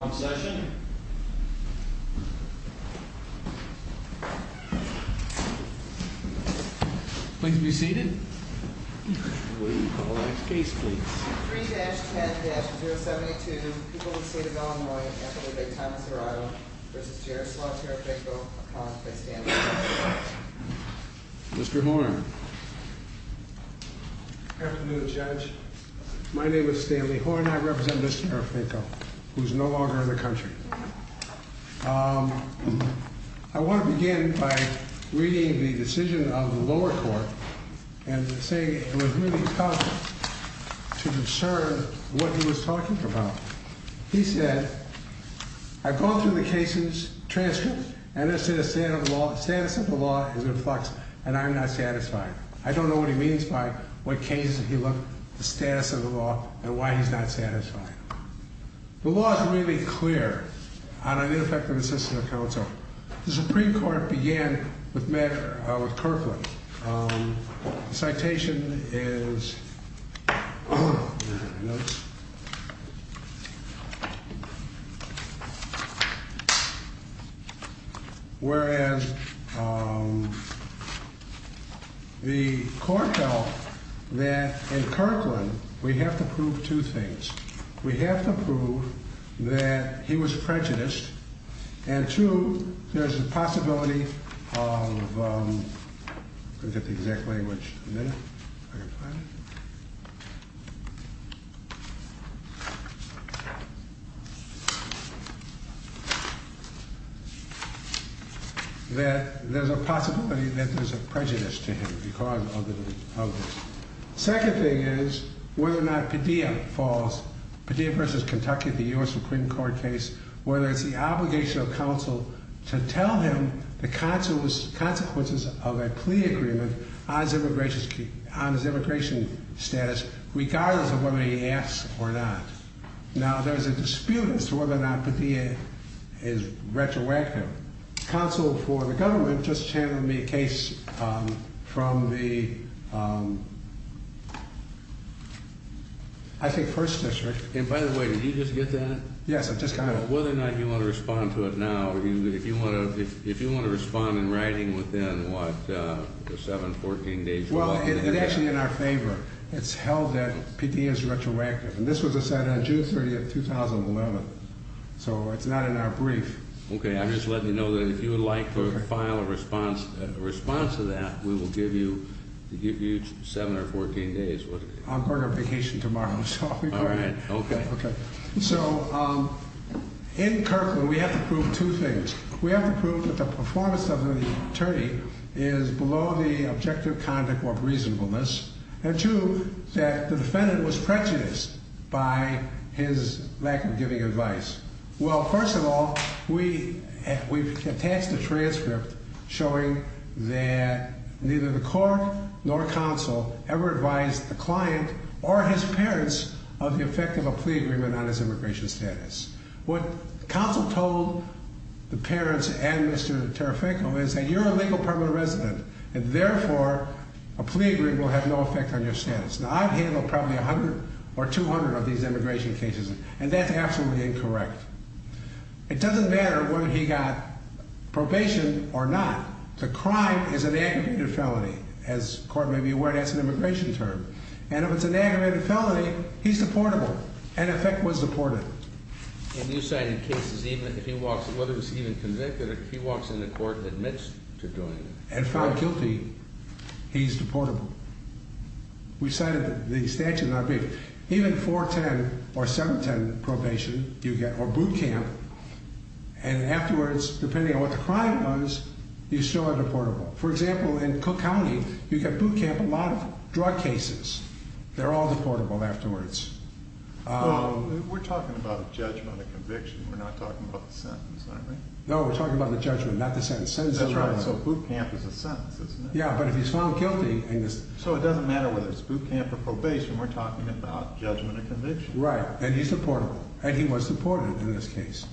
on session. Please be seated. Case, please. Mr Horn. Afternoon, Judge. My name is Stanley Horn. I represent Mr. Terenfenko, who's no longer in the country. I want to begin by reading the decision of the lower court and saying it was really tough to discern what he was talking about. He said, I've gone through the case's transcript, and it says, status of the law is in flux, and I'm not satisfied. I don't know what he means by what cases he looked, the status of the law, and why he's not satisfied. The law is really clear on an ineffective assistant counsel. The Supreme Court began with Kirkland. Citation is, whereas the court held that in Kirkland, we have to prove two things. We have to prove that he was prejudiced, and two, there's a possibility of, I forget the exact language, that there's a possibility that there's a prejudice to him because of this. Second thing is whether or not Padilla falls, Padilla versus Kentucky, the U.S. Supreme Court case, whether it's the obligation of counsel to tell him the consequences of a plea agreement on his immigration status, regardless of whether he asks or not. Now, there's a dispute as to whether or not Padilla is retroactive. Counsel for the government just said, I think First District. And by the way, did you just get that? Yes, I just got it. Whether or not you want to respond to it now, if you want to respond in writing within, what, 7, 14 days? Well, it's actually in our favor. It's held that Padilla is retroactive, and this was decided on June 30th, 2011. So it's not in our brief. Okay, I'm just letting you know that if you would like to file a response to that, we will give you, to give you 7 or 14 days. I'm going on vacation tomorrow. All right. Okay. Okay. So in Kirkland, we have to prove two things. We have to prove that the performance of the attorney is below the objective conduct or reasonableness, and two, that the defendant was prejudiced by his lack of giving advice. Well, first of all, we've attached a transcript showing that neither the court nor counsel ever advised the client or his parents of the effect of a plea agreement on his immigration status. What counsel told the parents and Mr. Tarafinko is that you're a legal permanent resident, and therefore, a plea agreement will have no effect on your status. Now, I've handled probably 100 or 200 of these immigration cases, and that's absolutely incorrect. It doesn't matter whether he got probation or not. The crime is an aggravated felony. As the court may be aware, that's an immigration term. And if it's an aggravated felony, he's deportable. And in effect, was deported. And you cited cases even if he walks, whether he was even convicted, if he walks in the court and admits to doing it. And found guilty, he's deportable. We cited the statute in our brief. Even 410 or boot camp. And afterwards, depending on what the crime was, you still are deportable. For example, in Cook County, you get boot camp a lot of drug cases. They're all deportable afterwards. We're talking about a judgment of conviction. We're not talking about the sentence, are we? No, we're talking about the judgment, not the sentence. That's right. So boot camp is a sentence, isn't it? Yeah, but if he's found guilty. So it doesn't matter whether it's boot camp or probation. We're talking about judgment of conviction. Right. And he's deportable. And he was deported in this case.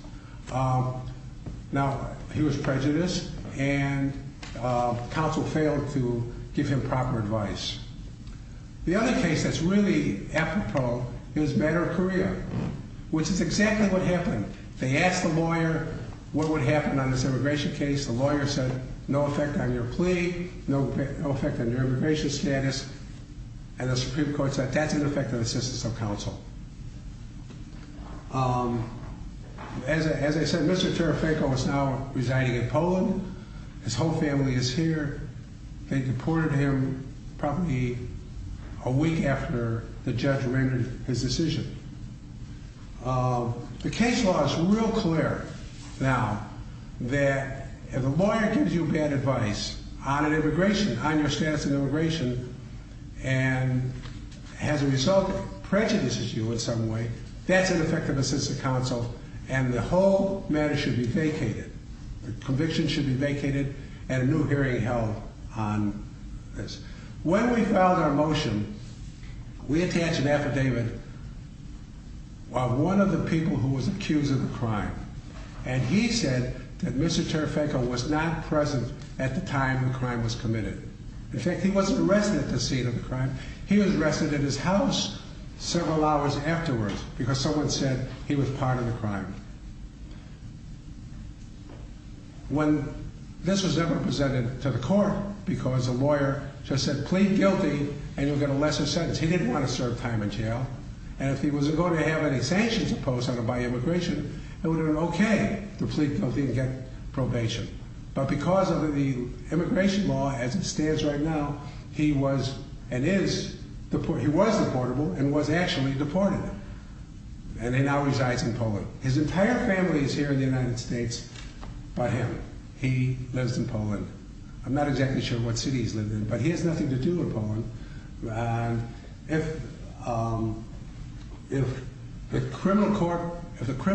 Now, he was prejudiced and counsel failed to give him proper advice. The other case that's really apropos is Banner of Korea, which is exactly what happened. They asked the lawyer what would happen on this immigration case. The lawyer said, no effect on your plea, no effect on your immigration status. And the Supreme Court said that's an effect of assistance of counsel. As I said, Mr. Tarafenko is now residing in Poland. His whole family is here. They deported him probably a week after the judge rendered his decision. The case law is real clear now that if a lawyer gives you bad advice on an immigration, on your status in immigration and as a result prejudices you in some way, that's an effect of assistance of counsel and the whole matter should be vacated. The conviction should be vacated and a new hearing held on this. When we filed our motion, we attached an affidavit on one of the people who was accused of the crime. And he said that Mr. Tarafenko was not present at the time the crime was committed. In fact, he wasn't arrested at the scene of the crime. He was arrested at his house several hours afterwards because someone said he was part of the crime. When this was never presented to the court because the lawyer just said plead guilty and you'll get a lesser sentence. He didn't want to serve time in jail. And if he wasn't going to have any sanctions imposed on him by immigration, it would have been okay to plead guilty and probation. But because of the immigration law as it stands right now, he was and is, he was deportable and was actually deported. And he now resides in Poland. His entire family is here in the United States by him. He lives in Poland. I'm not exactly sure what city he's lived in, but he has nothing to do in Poland. If the criminal court, if the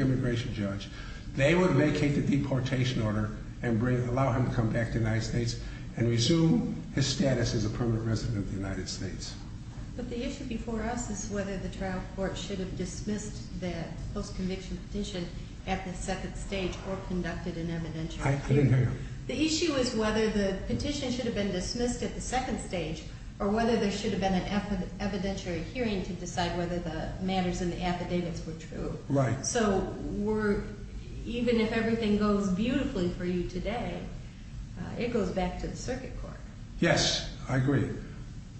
immigration judge, they would vacate the deportation order and allow him to come back to the United States and resume his status as a permanent resident of the United States. But the issue before us is whether the trial court should have dismissed that post-conviction petition at the second stage or conducted an evidentiary hearing. The issue is whether the petition should have been dismissed at the second stage or whether there should have been an evidentiary hearing to decide whether the matters in the affidavits were true. Right. So we're, even if everything goes beautifully for you today, it goes back to the circuit court. Yes, I agree.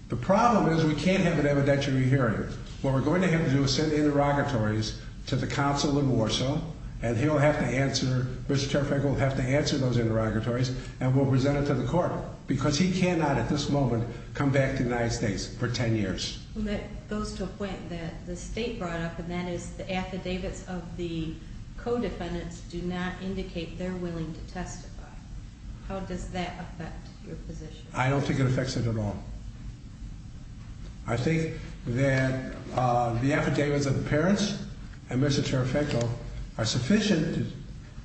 The problem is we can't have an evidentiary hearing. What we're going to have to do is send interrogatories to the counsel in Warsaw and he'll have to answer, Mr. Trafalgar will have to answer those interrogatories and we'll present it to the court because he cannot at this moment come back to the United States for 10 years. Well, that goes to a point that the state brought up and that is the affidavits of the co-defendants do not indicate they're willing to testify. How does that affect your position? I don't think it affects it at all. I think that the affidavits of the parents and Mr. Trafalgar are sufficient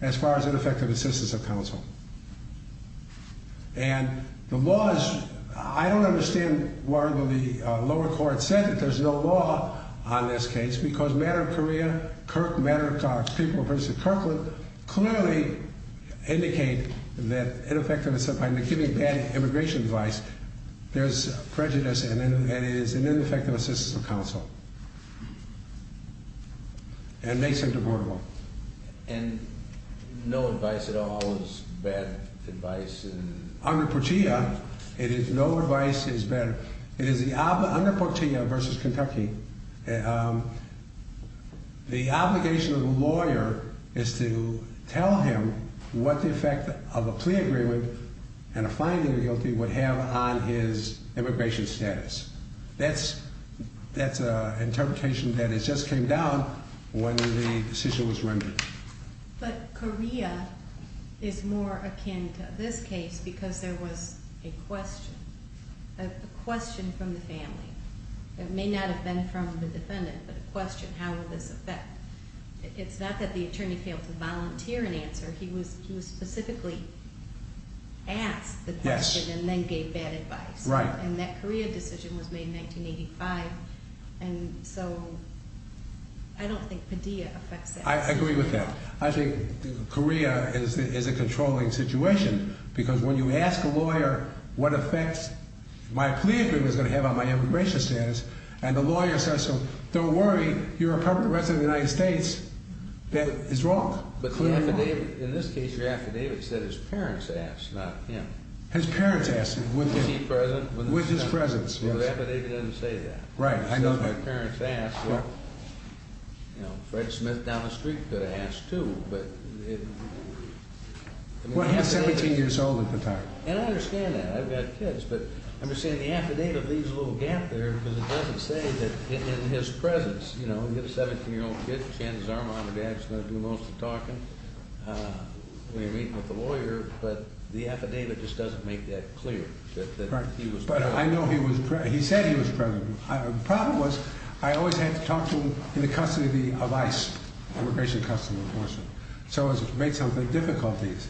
as far as ineffective assistance of counsel. And the laws, I don't understand why the lower court said that there's no law on this case because matter of Korea, Kirk, matter of fact, people of Princeton, Kirkland clearly indicate that ineffective, by giving bad immigration advice, there's prejudice and it is an ineffective assistance of counsel. And makes them deportable. And no advice at all is bad advice in... Under Portilla, it is no advice is better. It is under Portilla versus Kentucky. The obligation of the lawyer is to tell him what the effect of a plea agreement and a finding of guilty would have on his immigration status. That's an interpretation that it just came down when the decision was rendered. But Korea is more akin to this case because there was a question from the family. It may not have been from the defendant, but a question, how will this affect? It's not that the attorney failed to volunteer an answer. He was specifically asked the question and then gave bad advice. Right. And that Korea decision was made in 1985. And so I don't think Padilla affects that. I agree with that. I think Korea is a controlling situation because when you ask a lawyer what effects my plea agreement was going to have on my immigration status and the lawyer says, so don't worry, you're a puppet of the rest of the United States, that is wrong. But in this case, your affidavit said his parents asked, not him. His parents asked. Was he present? With his presence. The affidavit doesn't say that. Right. I know that. So if my parents asked, you know, Fred Smith down the street could have asked too, but... Well, he's 17 years old at the time. And I understand that. I've got kids, but I'm just saying the affidavit leaves a little gap there because it doesn't say that in his presence, you know, you have a 17-year-old kid, chances are mom and dad's going to do most of the talking when you're meeting with the lawyer, but the affidavit just doesn't make that clear that he was present. But I know he was present. He said he was present. The problem was I always had to talk to him in the custody of ICE, Immigration and Customs Enforcement. So it made some difficulties,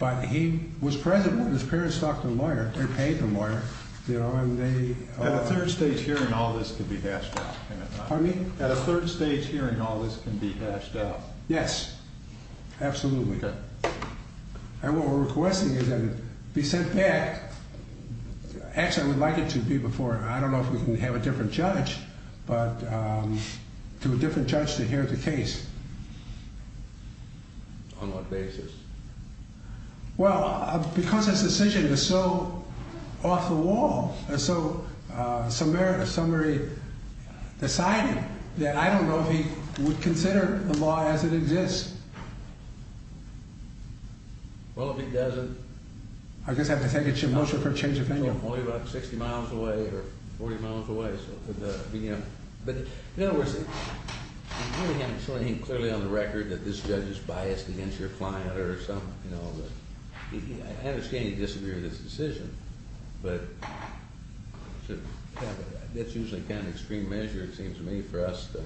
but he was present when his parents talked to the lawyer. They paid the lawyer, you know, and they... At a third stage hearing all this could be hashed out. Pardon me? At a third stage hearing all this can be hashed out. Yes, absolutely. Okay. And what we're requesting is that it be sent back. Actually, I would like it to be before, I don't know if we can have a different judge, but to a different judge to hear the case. On what basis? Well, because this decision is so off the wall, and so somebody decided that I don't know if he would consider the law as it exists. Well, if he doesn't... I guess I have to take a motion for change of opinion. Only about 60 miles away or 40 miles away. But in other words, it really ain't so clearly on the record that this judge is biased against your client or something, you know. I understand he disagreed with this decision, but that's usually kind of extreme measure, it seems to me, for us to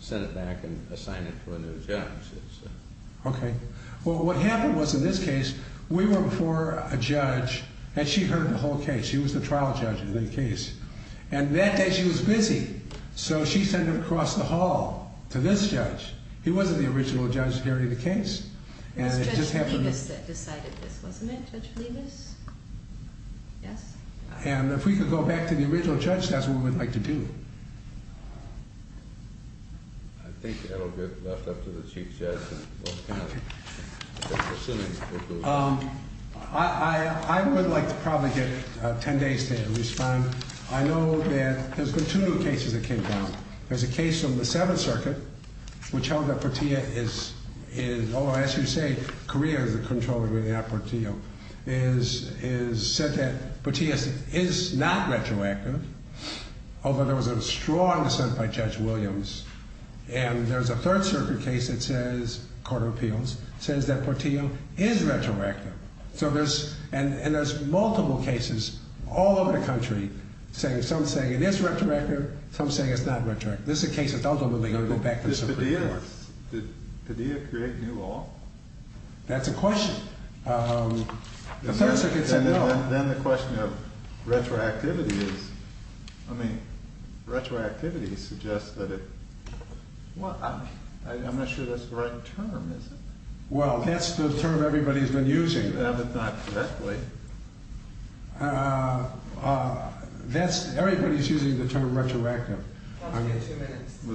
send it back and assign it to a new judge. Okay. Well, what happened was in this case, we were before a judge and she heard the whole case. She was the trial judge in the case. And that day she was busy, so she sent it across the hall to this judge. He wasn't the original judge hearing the case. It was Judge Leavis that decided this, wasn't it, Judge Leavis? Yes? And if we could go back to the original judge, that's what we would like to do. I think that'll get left up to the Chief Judge and probably get 10 days to respond. I know that there's been two cases that came down. There's a case from the Seventh Circuit, which held that Portillo is, as you say, Korea is the controller, not Portillo, is said that Portillo is not retroactive, although there was a strong dissent by Judge Williams. And there's a Third Circuit case that says, Court of Appeals, says that all over the country, saying some saying it is retroactive, some saying it's not retroactive. This is a case that's ultimately going to go back to the Supreme Court. Did Padilla create new law? That's a question. Then the question of retroactivity is, I mean, retroactivity suggests that it, well, I'm not sure that's the right term, is it? Well, that's the term everybody's been using. That's everybody's using the term retroactive.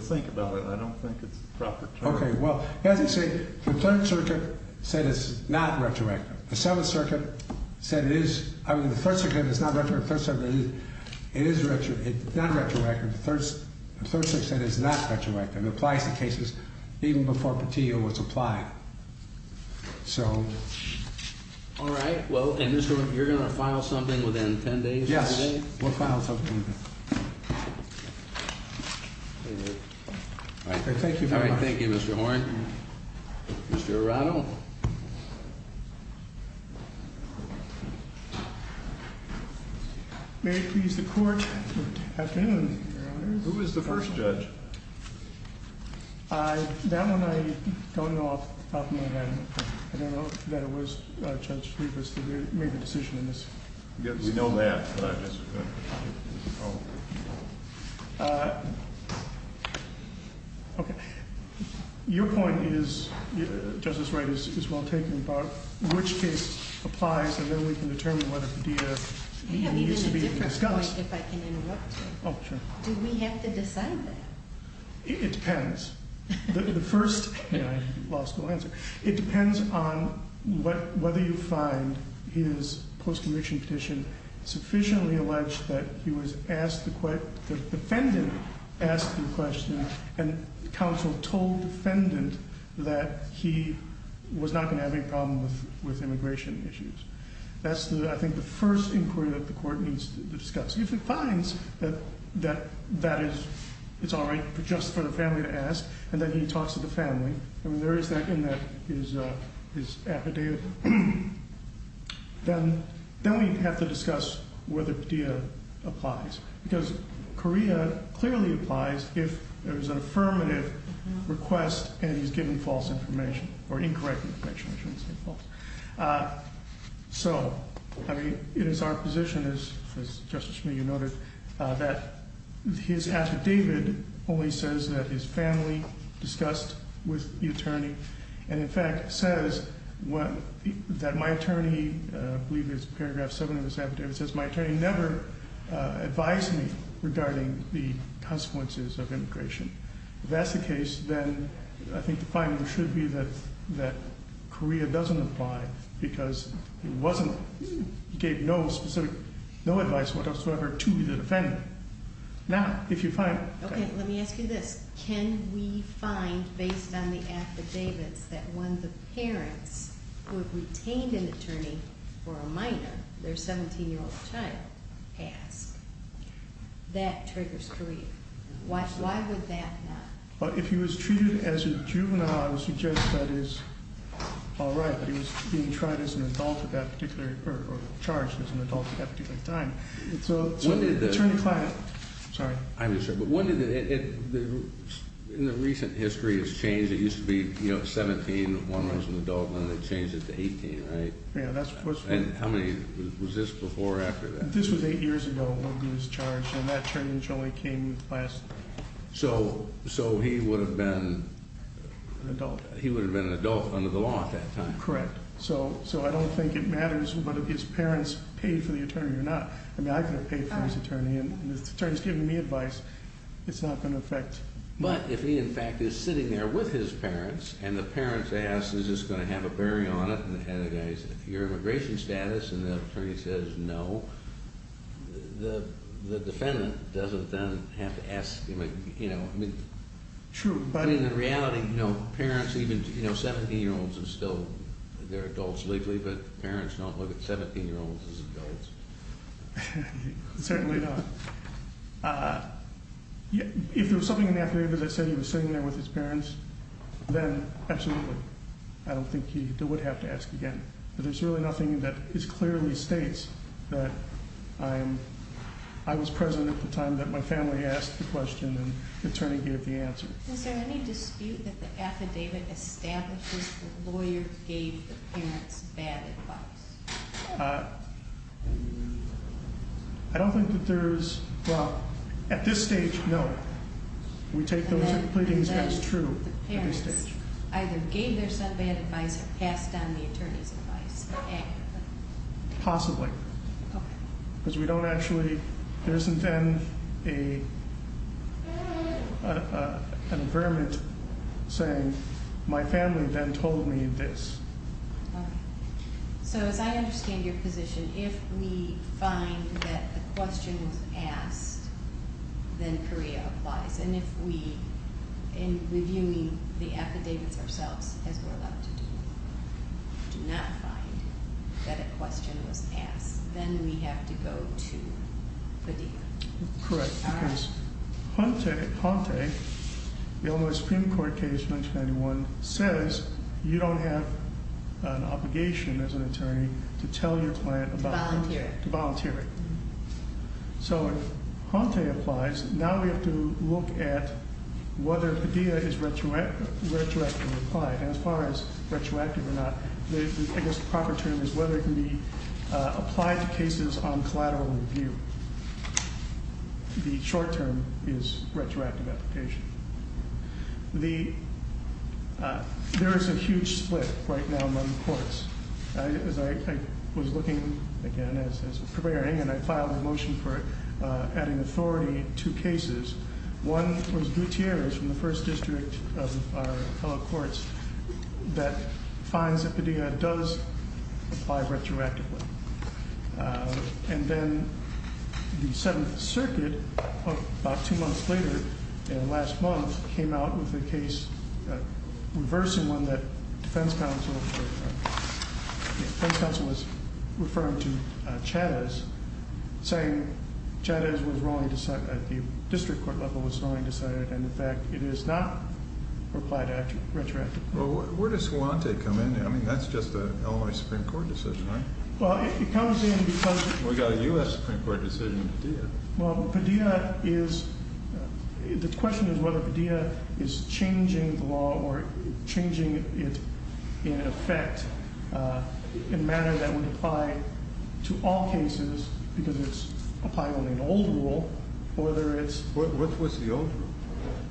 Think about it. I don't think it's proper term. Okay. Well, as you say, the Third Circuit said it's not retroactive. The Seventh Circuit said it is. I mean, the Third Circuit said it's not retroactive. The Third Circuit said it is not retroactive. The Third Circuit said it's not retroactive. It applies to cases even before Portillo was applied. So, all right. Well, and you're going to file something within 10 days? Yes, we'll file something. Thank you. Thank you, Mr. Horne. Mr. Arado. May it please the Court. Good afternoon. Who is the I don't know that it was Judge Trevis that made the decision in this case. We know that, but I guess we're going to have to deal with this problem. Okay. Your point is, Justice Wright, is well taken about which case applies, and then we can determine whether Padilla needs to be discussed. Can you give me a different point if I can interrupt you? Oh, sure. Do we have to It depends on whether you find his post-conviction petition sufficiently alleged that he was asked the question, the defendant asked the question, and counsel told defendant that he was not going to have any problem with immigration issues. That's, I think, the first inquiry that the Court needs to discuss. If it finds that it's all right just for the family to ask, and then he talks to the family. I mean, there is that in that his affidavit. Then we have to discuss whether Padilla applies, because Correa clearly applies if there is an affirmative request and he's given false information or incorrect information. So, I mean, it is our position, as Justice Schmidt noted, that his affidavit only says that his family discussed with the attorney, and in fact says that my attorney, I believe it's paragraph 7 of his affidavit, says my attorney never advised me regarding the consequences of immigration. If that's the case, then I think the finding should be that Correa doesn't apply because he wasn't, he gave no specific, no advice whatsoever to the defendant. Now, if you find Okay, let me ask you this. Can we find, based on the affidavits, that when the parents who have retained an attorney for a minor, their 17-year-old child passed, that triggers Correa? Why would that not? If he was treated as a juvenile, I would suggest that is all right, but he was being tried as an adult at that particular, or charged as an adult at that particular time. So what did the Sorry. I'm just saying, but when did it, in the recent history, it's changed, it used to be, you know, 17, one was an adult, and then they changed it to 18, right? Yeah, that's what's been. And how many, was this before or after that? This was eight years ago when he was charged, and that change only came last. So, so he would have been an adult. He would have been an adult under the law at that time. Correct. So, so I don't think it matters what if his parents paid for the attorney or not. I mean, I could have paid for his attorney and if the attorney's giving me advice, it's not going to affect me. But if he, in fact, is sitting there with his parents, and the parents ask, is this going to have a bearing on it? And the guy says, is it your immigration status? And the attorney says, no. The defendant doesn't then have to ask, you know, I mean. True. But in the reality, you know, parents even, you know, 17-year-olds are still, they're adults legally, but parents don't look at 17-year-olds as adults. Certainly not. If there was something in the affidavit that said he was sitting there with his parents, then absolutely. I don't think he would have to ask again. But there's really nothing that is clearly states that I'm, I was present at the time that my family asked the question and the attorney gave the answer. Is there any dispute that the affidavit establishes that the lawyer gave the advice? I don't think that there's, well, at this stage, no. We take those two pleadings as true. The parents either gave their son bad advice or passed on the attorney's advice. Possibly. Because we don't actually, there isn't then a, an My family then told me this. So as I understand your position, if we find that the question was asked, then Korea applies. And if we, in reviewing the affidavits ourselves, as we're allowed to do, do not find that a question was asked, then we have to go to Padilla. Correct. Because Hante, the Illinois Supreme Court case, 1991, says you don't have an obligation as an attorney to tell your client about volunteering. So if Hante applies, now we have to look at whether Padilla is retroactively applied. As far as retroactive or not, I guess the proper term is whether it can be applied to cases on collateral review. The short term is retroactive application. The, there is a huge split right now among courts. As I was looking, again, as we're preparing, and I filed a motion for adding authority to cases, one was Gutierrez from the First District of our fellow courts that finds that Padilla does apply retroactively. And then the Seventh Circuit, about two months later, in the last month, came out with a case reversing one that defense counsel, the defense counsel was referring to Chavez, saying Chavez was wrongly, at the district court level, was wrongly decided. And in fact, it is not applied retroactively. Well, where does Hante come in? I mean, that's just an Illinois Supreme Court decision, right? Well, it comes in because... We've got a U.S. Supreme Court decision in Padilla. Well, Padilla is, the question is whether Padilla is changing the law or changing it in effect in a manner that would apply to all cases, because it's applying only an old rule, whether it's... What was the old rule?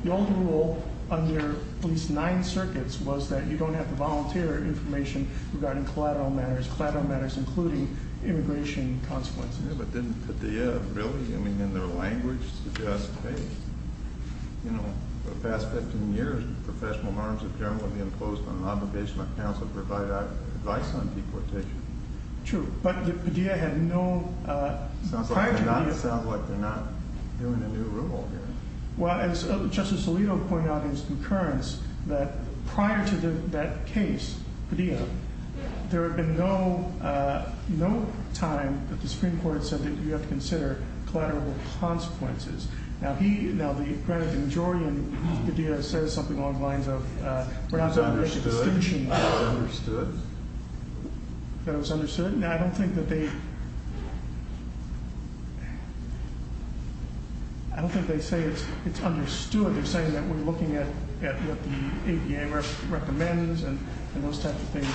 The old rule under at least nine circuits was that you don't have to give your information regarding collateral matters, collateral matters including immigration consequences. Yeah, but didn't Padilla really, I mean, in their language, suggest, hey, you know, for the past 15 years, professional norms of jurisdiction will be imposed on an obligation of counsel to provide advice on deportation. True, but Padilla had no prior to... It sounds like they're not doing a new rule here. Well, as Justice Alito pointed out in his concurrence, that prior to that case, Padilla, there had been no time that the Supreme Court said that you have to consider collateral consequences. Now, he, now the majority in Padilla says something along the lines of... That it was understood? Now, I don't think that they... I don't think they say it's understood. They're saying that we're looking at what the ADA recommends and those types of things,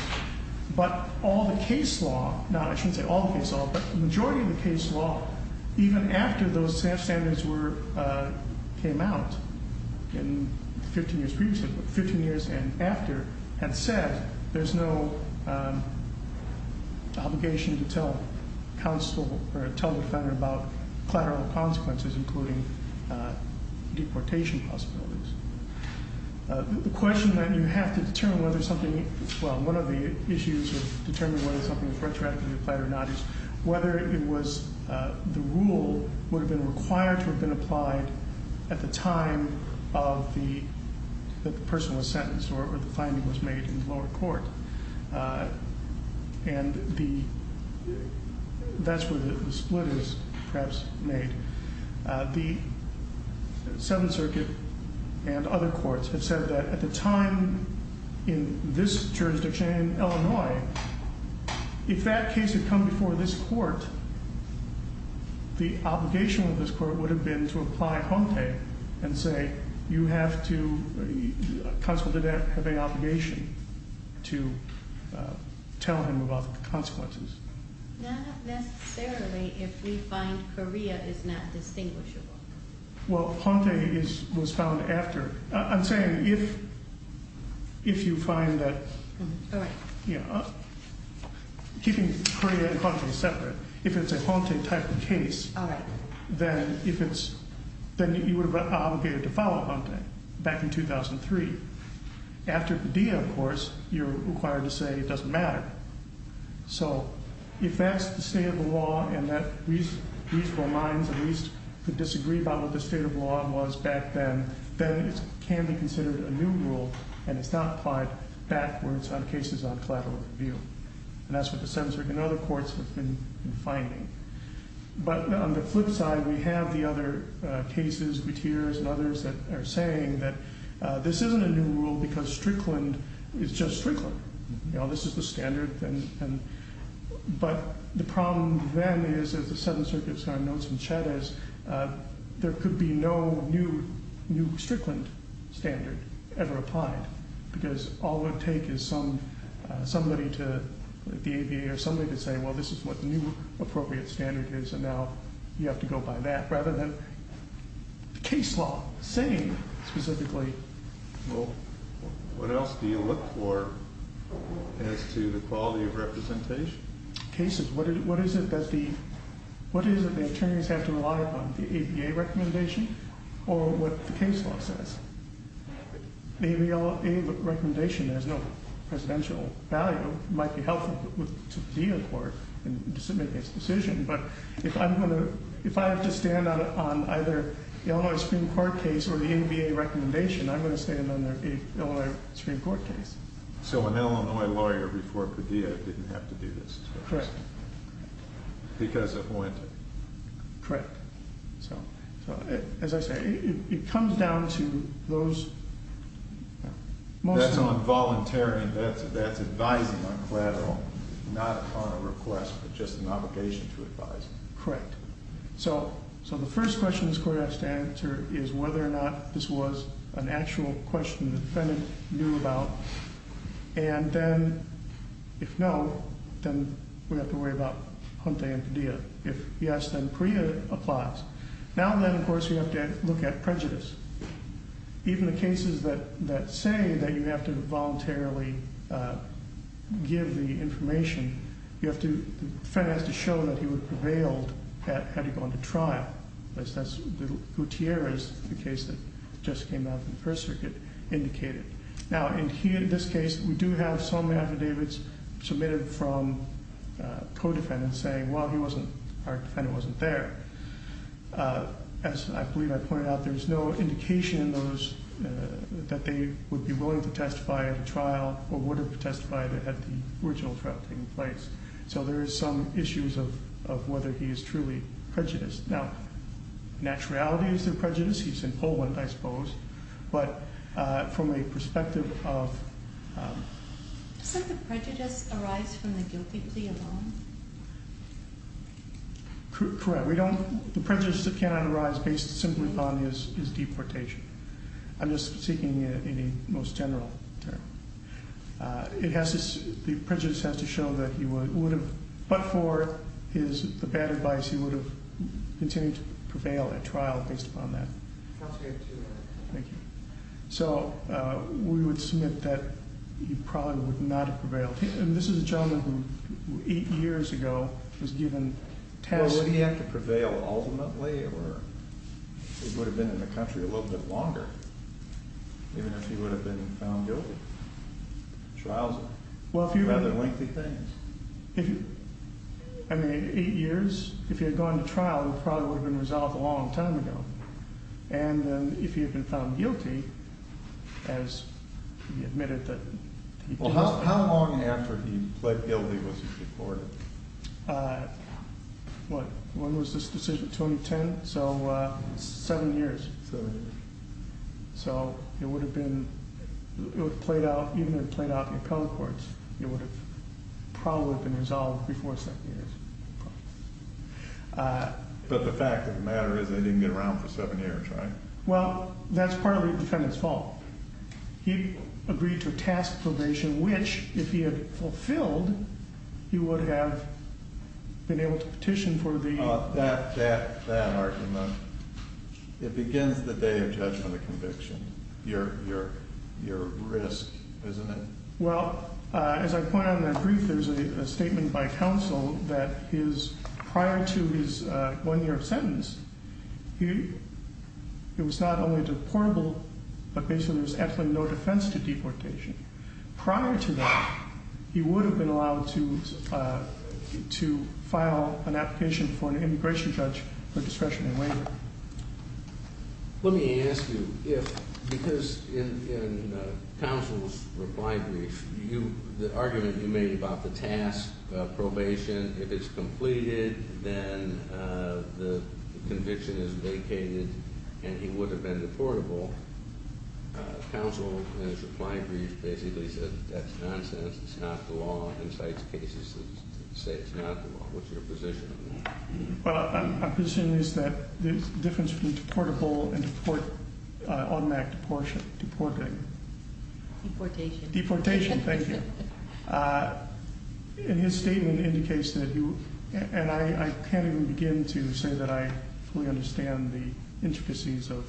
but all the case law, not, I shouldn't say all the case law, but the majority of the case law, even after those standards were, came out in 15 years previously, 15 years and after, had said there's no obligation to tell counsel or tell the defender about collateral consequences, including deportation possibilities. The question that you have to determine whether something, well, one of the issues of determining whether something is retroactively applied or not is whether it was, the rule would have been required to have been applied at the time of the, that the person was sentenced or the finding was made in the lower court. And the, that's where the split is perhaps made. The Seventh Circuit and other courts have said that at the time in this jurisdiction in Illinois, if that case had come before this court, the obligation of this court would have been to apply HOMTE and say you have to, counsel did have a obligation to tell him about the consequences. Not necessarily if we find Korea is not distinguishable. Well, HOMTE is, was found after, I'm saying if, if you find that, yeah, keeping Korea and HOMTE separate, if it's a HOMTE type of case, then if it's, then you would have been obligated to follow HOMTE back in 2003. After Padilla, of course, had to say it doesn't matter. So if that's the state of the law and that reasonable minds at least could disagree about what the state of law was back then, then it can be considered a new rule and it's not applied backwards on cases on collateral review. And that's what the Seventh Circuit and other courts have been finding. But on the flip side, we have the other cases, Gutierrez and others, that are saying that this isn't a new rule because Strickland is just Strickland. You know, this is the standard and, and, but the problem then is, as the Seventh Circuit's got notes from Chavez, there could be no new, new Strickland standard ever applied because all it would take is some, somebody to, the ABA or somebody to say, well, this is what new appropriate standard is and now you have to go by that rather than the case law saying specifically. Well, what else do you look for as to the quality of representation? Cases. What is it that the, what is it the attorneys have to rely upon? The ABA recommendation or what the case law says? The ABA recommendation has no presidential value. It might be helpful to the DA court in submitting its decision, but if I'm going to, if I have to stand on either the Illinois Supreme Court case or the ABA recommendation, I'm going to stand on the Illinois Supreme Court case. So an Illinois lawyer before the DA didn't have to do this. Correct. Because it went. Correct. So, so as I say, it comes down to those. That's on voluntary, that's, that's advising on collateral, not upon a request, but just an obligation to advise. Correct. So, so the first question this court has to answer is whether or not this was an actual question the defendant knew about. And then, if no, then we have to worry about Hunte and Padilla. If yes, then Priya applies. Now then, of course, you have to look at prejudice. Even the cases that, that say that you have to voluntarily give the information, you have to, the defendant has to show that he would have prevailed had he gone to trial. That's, that's Gutierrez, the case that just came out in the First Circuit, indicated. Now in here, in this case, we do have some affidavits submitted from co-defendants saying, well, he wasn't, our defendant wasn't there. As I believe I pointed out, there's no indication in those that they would be willing to testify at a trial or would have testified at the original trial taking place. So there is some issues of, of whether he is truly prejudiced. Now, naturalities of prejudice, he's in Poland, I suppose, but from a perspective of... Does the prejudice arise from the guilty plea alone? Correct. We don't, the prejudice that cannot arise based simply on his deportation. I'm just speaking in the most general term. It has to, the prejudice has to have, but for his, the bad advice, he would have continued to prevail at trial based upon that. Thank you. So we would submit that he probably would not have prevailed. And this is a gentleman who, eight years ago, was given tests. Would he have to prevail ultimately, or he would have been in the country a little bit longer, even if he would have been found guilty? Trials are rather lengthy things. If, I mean, eight years, if he had gone to trial, it probably would have been resolved a long time ago. And if he had been found guilty, as he admitted that... Well, how long after he pled guilty was he deported? What, when was this decision, 2010? So seven years. So it would probably have been resolved before seven years. But the fact of the matter is they didn't get around for seven years, right? Well, that's partly the defendant's fault. He agreed to a task probation, which, if he had fulfilled, he would have been able to petition for the... That, that, that argument, it begins the day of judgment of conviction. Your, your, your risk, isn't it? Well, as I point out in that brief, there's a statement by counsel that his, prior to his one-year sentence, he, it was not only deportable, but basically there was absolutely no defense to deportation. Prior to that, he would have been allowed to, to file an application for an immigration judge for discretion and waiver. Let me ask you if, because in, in counsel's reply brief, you, the argument you made about the task probation, if it's completed, then the conviction is vacated and he would have been deportable. Counsel, in his reply brief, basically said, that's nonsense. It's not the law. Insights cases say it's not the law. What's your position on that? Well, my position is that there's a difference between deportable and deport, automatic deportion, deporting. Deportation. Deportation. Thank you. And his statement indicates that he, and I, I can't even begin to say that I fully understand the intricacies of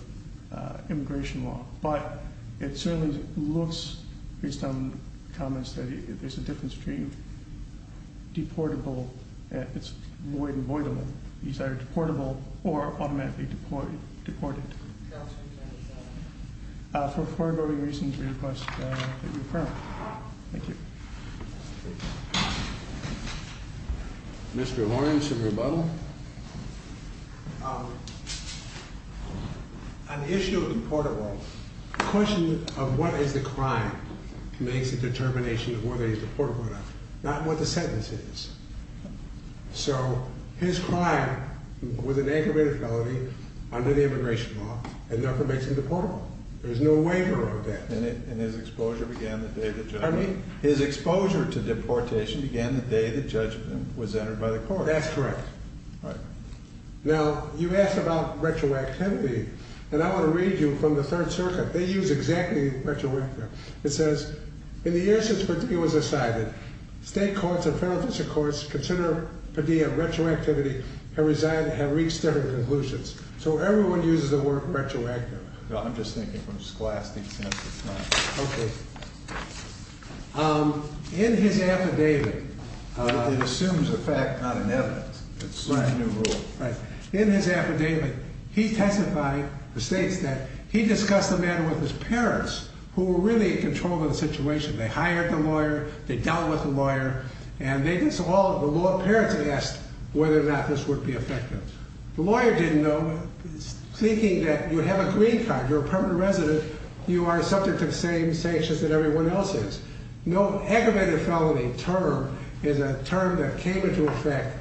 immigration law, but it certainly looks, based on comments that he, there's a difference between deportable and, it's void and voidable. These are deportable or automatically deported. For foreboding reasons, we request that you affirm. Thank you. Mr. Lawrence of Rebuttal. On the issue of deportable, the question of what is the crime makes a determination of whether he's deportable or not, not what the sentence is. So his crime was an aggravated felony under the immigration law and never mentioned deportable. There's no waiver of that. And his exposure began the day that, pardon me, his exposure to deportation began the day that judgment was entered by the court. That's correct. Right. Now you asked about retroactivity and I want to read you from the third circuit. They use exactly retroactive. It says, in the year since Padilla was decided, state courts and federal district courts consider Padilla retroactivity have resigned, have reached their conclusions. So everyone uses the word retroactive. I'm just thinking from Scholastic's sense of time. Okay. In his affidavit, it assumes a fact, not an evidence. It's a new rule. Right. In his affidavit, he testified, he states that he discussed the matter with his parents who were really in control of the situation. They hired the lawyer, they dealt with the lawyer, and they just all, the law parents asked whether or not this would be effective. The lawyer didn't know, thinking that you have a green card, you're a permanent resident, you are subject to the same sanctions that everyone else is. No aggravated felony term is a term that came into effect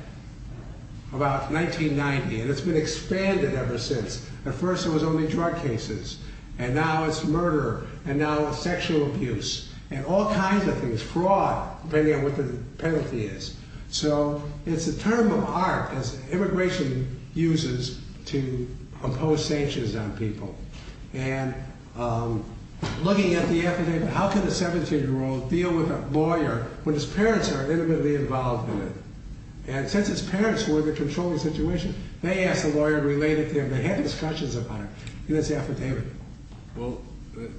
about 1990 and it's been expanded ever since. At first it was only drug cases and now it's murder and now it's sexual abuse and all kinds of things, fraud, depending on what the penalty is. So it's a term of art as immigration uses to impose sanctions on people. And looking at the affidavit, how can a 17-year-old deal with a lawyer when his parents are intimately involved in it? And since his parents were in the control of the situation, they asked the lawyer and relayed it to him. They had discussions about it in his affidavit. Well,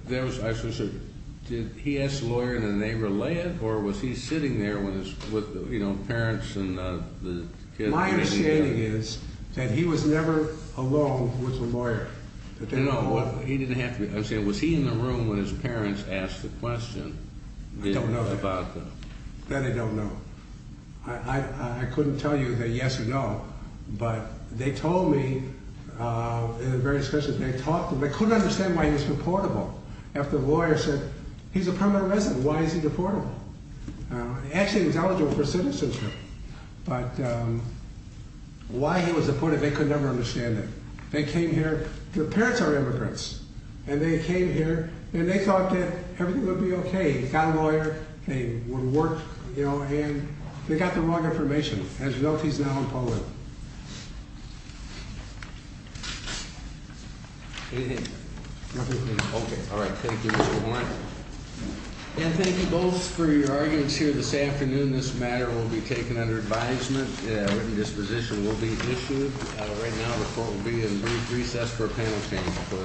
there was, I should say, did he ask the lawyer and then they relayed it or was he sitting there when his, with, you know, parents and the kids? My understanding is that he was never alone with the lawyer. No, he didn't have to, I'm saying, was he in the room when his parents asked the question? I don't know about that. That I don't know. I couldn't tell you that, yes or no, but they told me in various discussions, they talked to him, they couldn't understand why he was deportable after the lawyer said, he's a permanent resident, why is he deportable? Actually, he's eligible for citizenship, but why he was deportable, they could never understand it. They came here, their parents are immigrants, and they came here and they thought that everything would be okay. He got a lawyer, they would work, you know, and they got the wrong information. As a result, he's now in Poland. Okay. All right. Thank you. And thank you both for your arguments here this afternoon. This matter will be taken under advisement. Written position will be issued. Right now, the court will be in recess for a panel.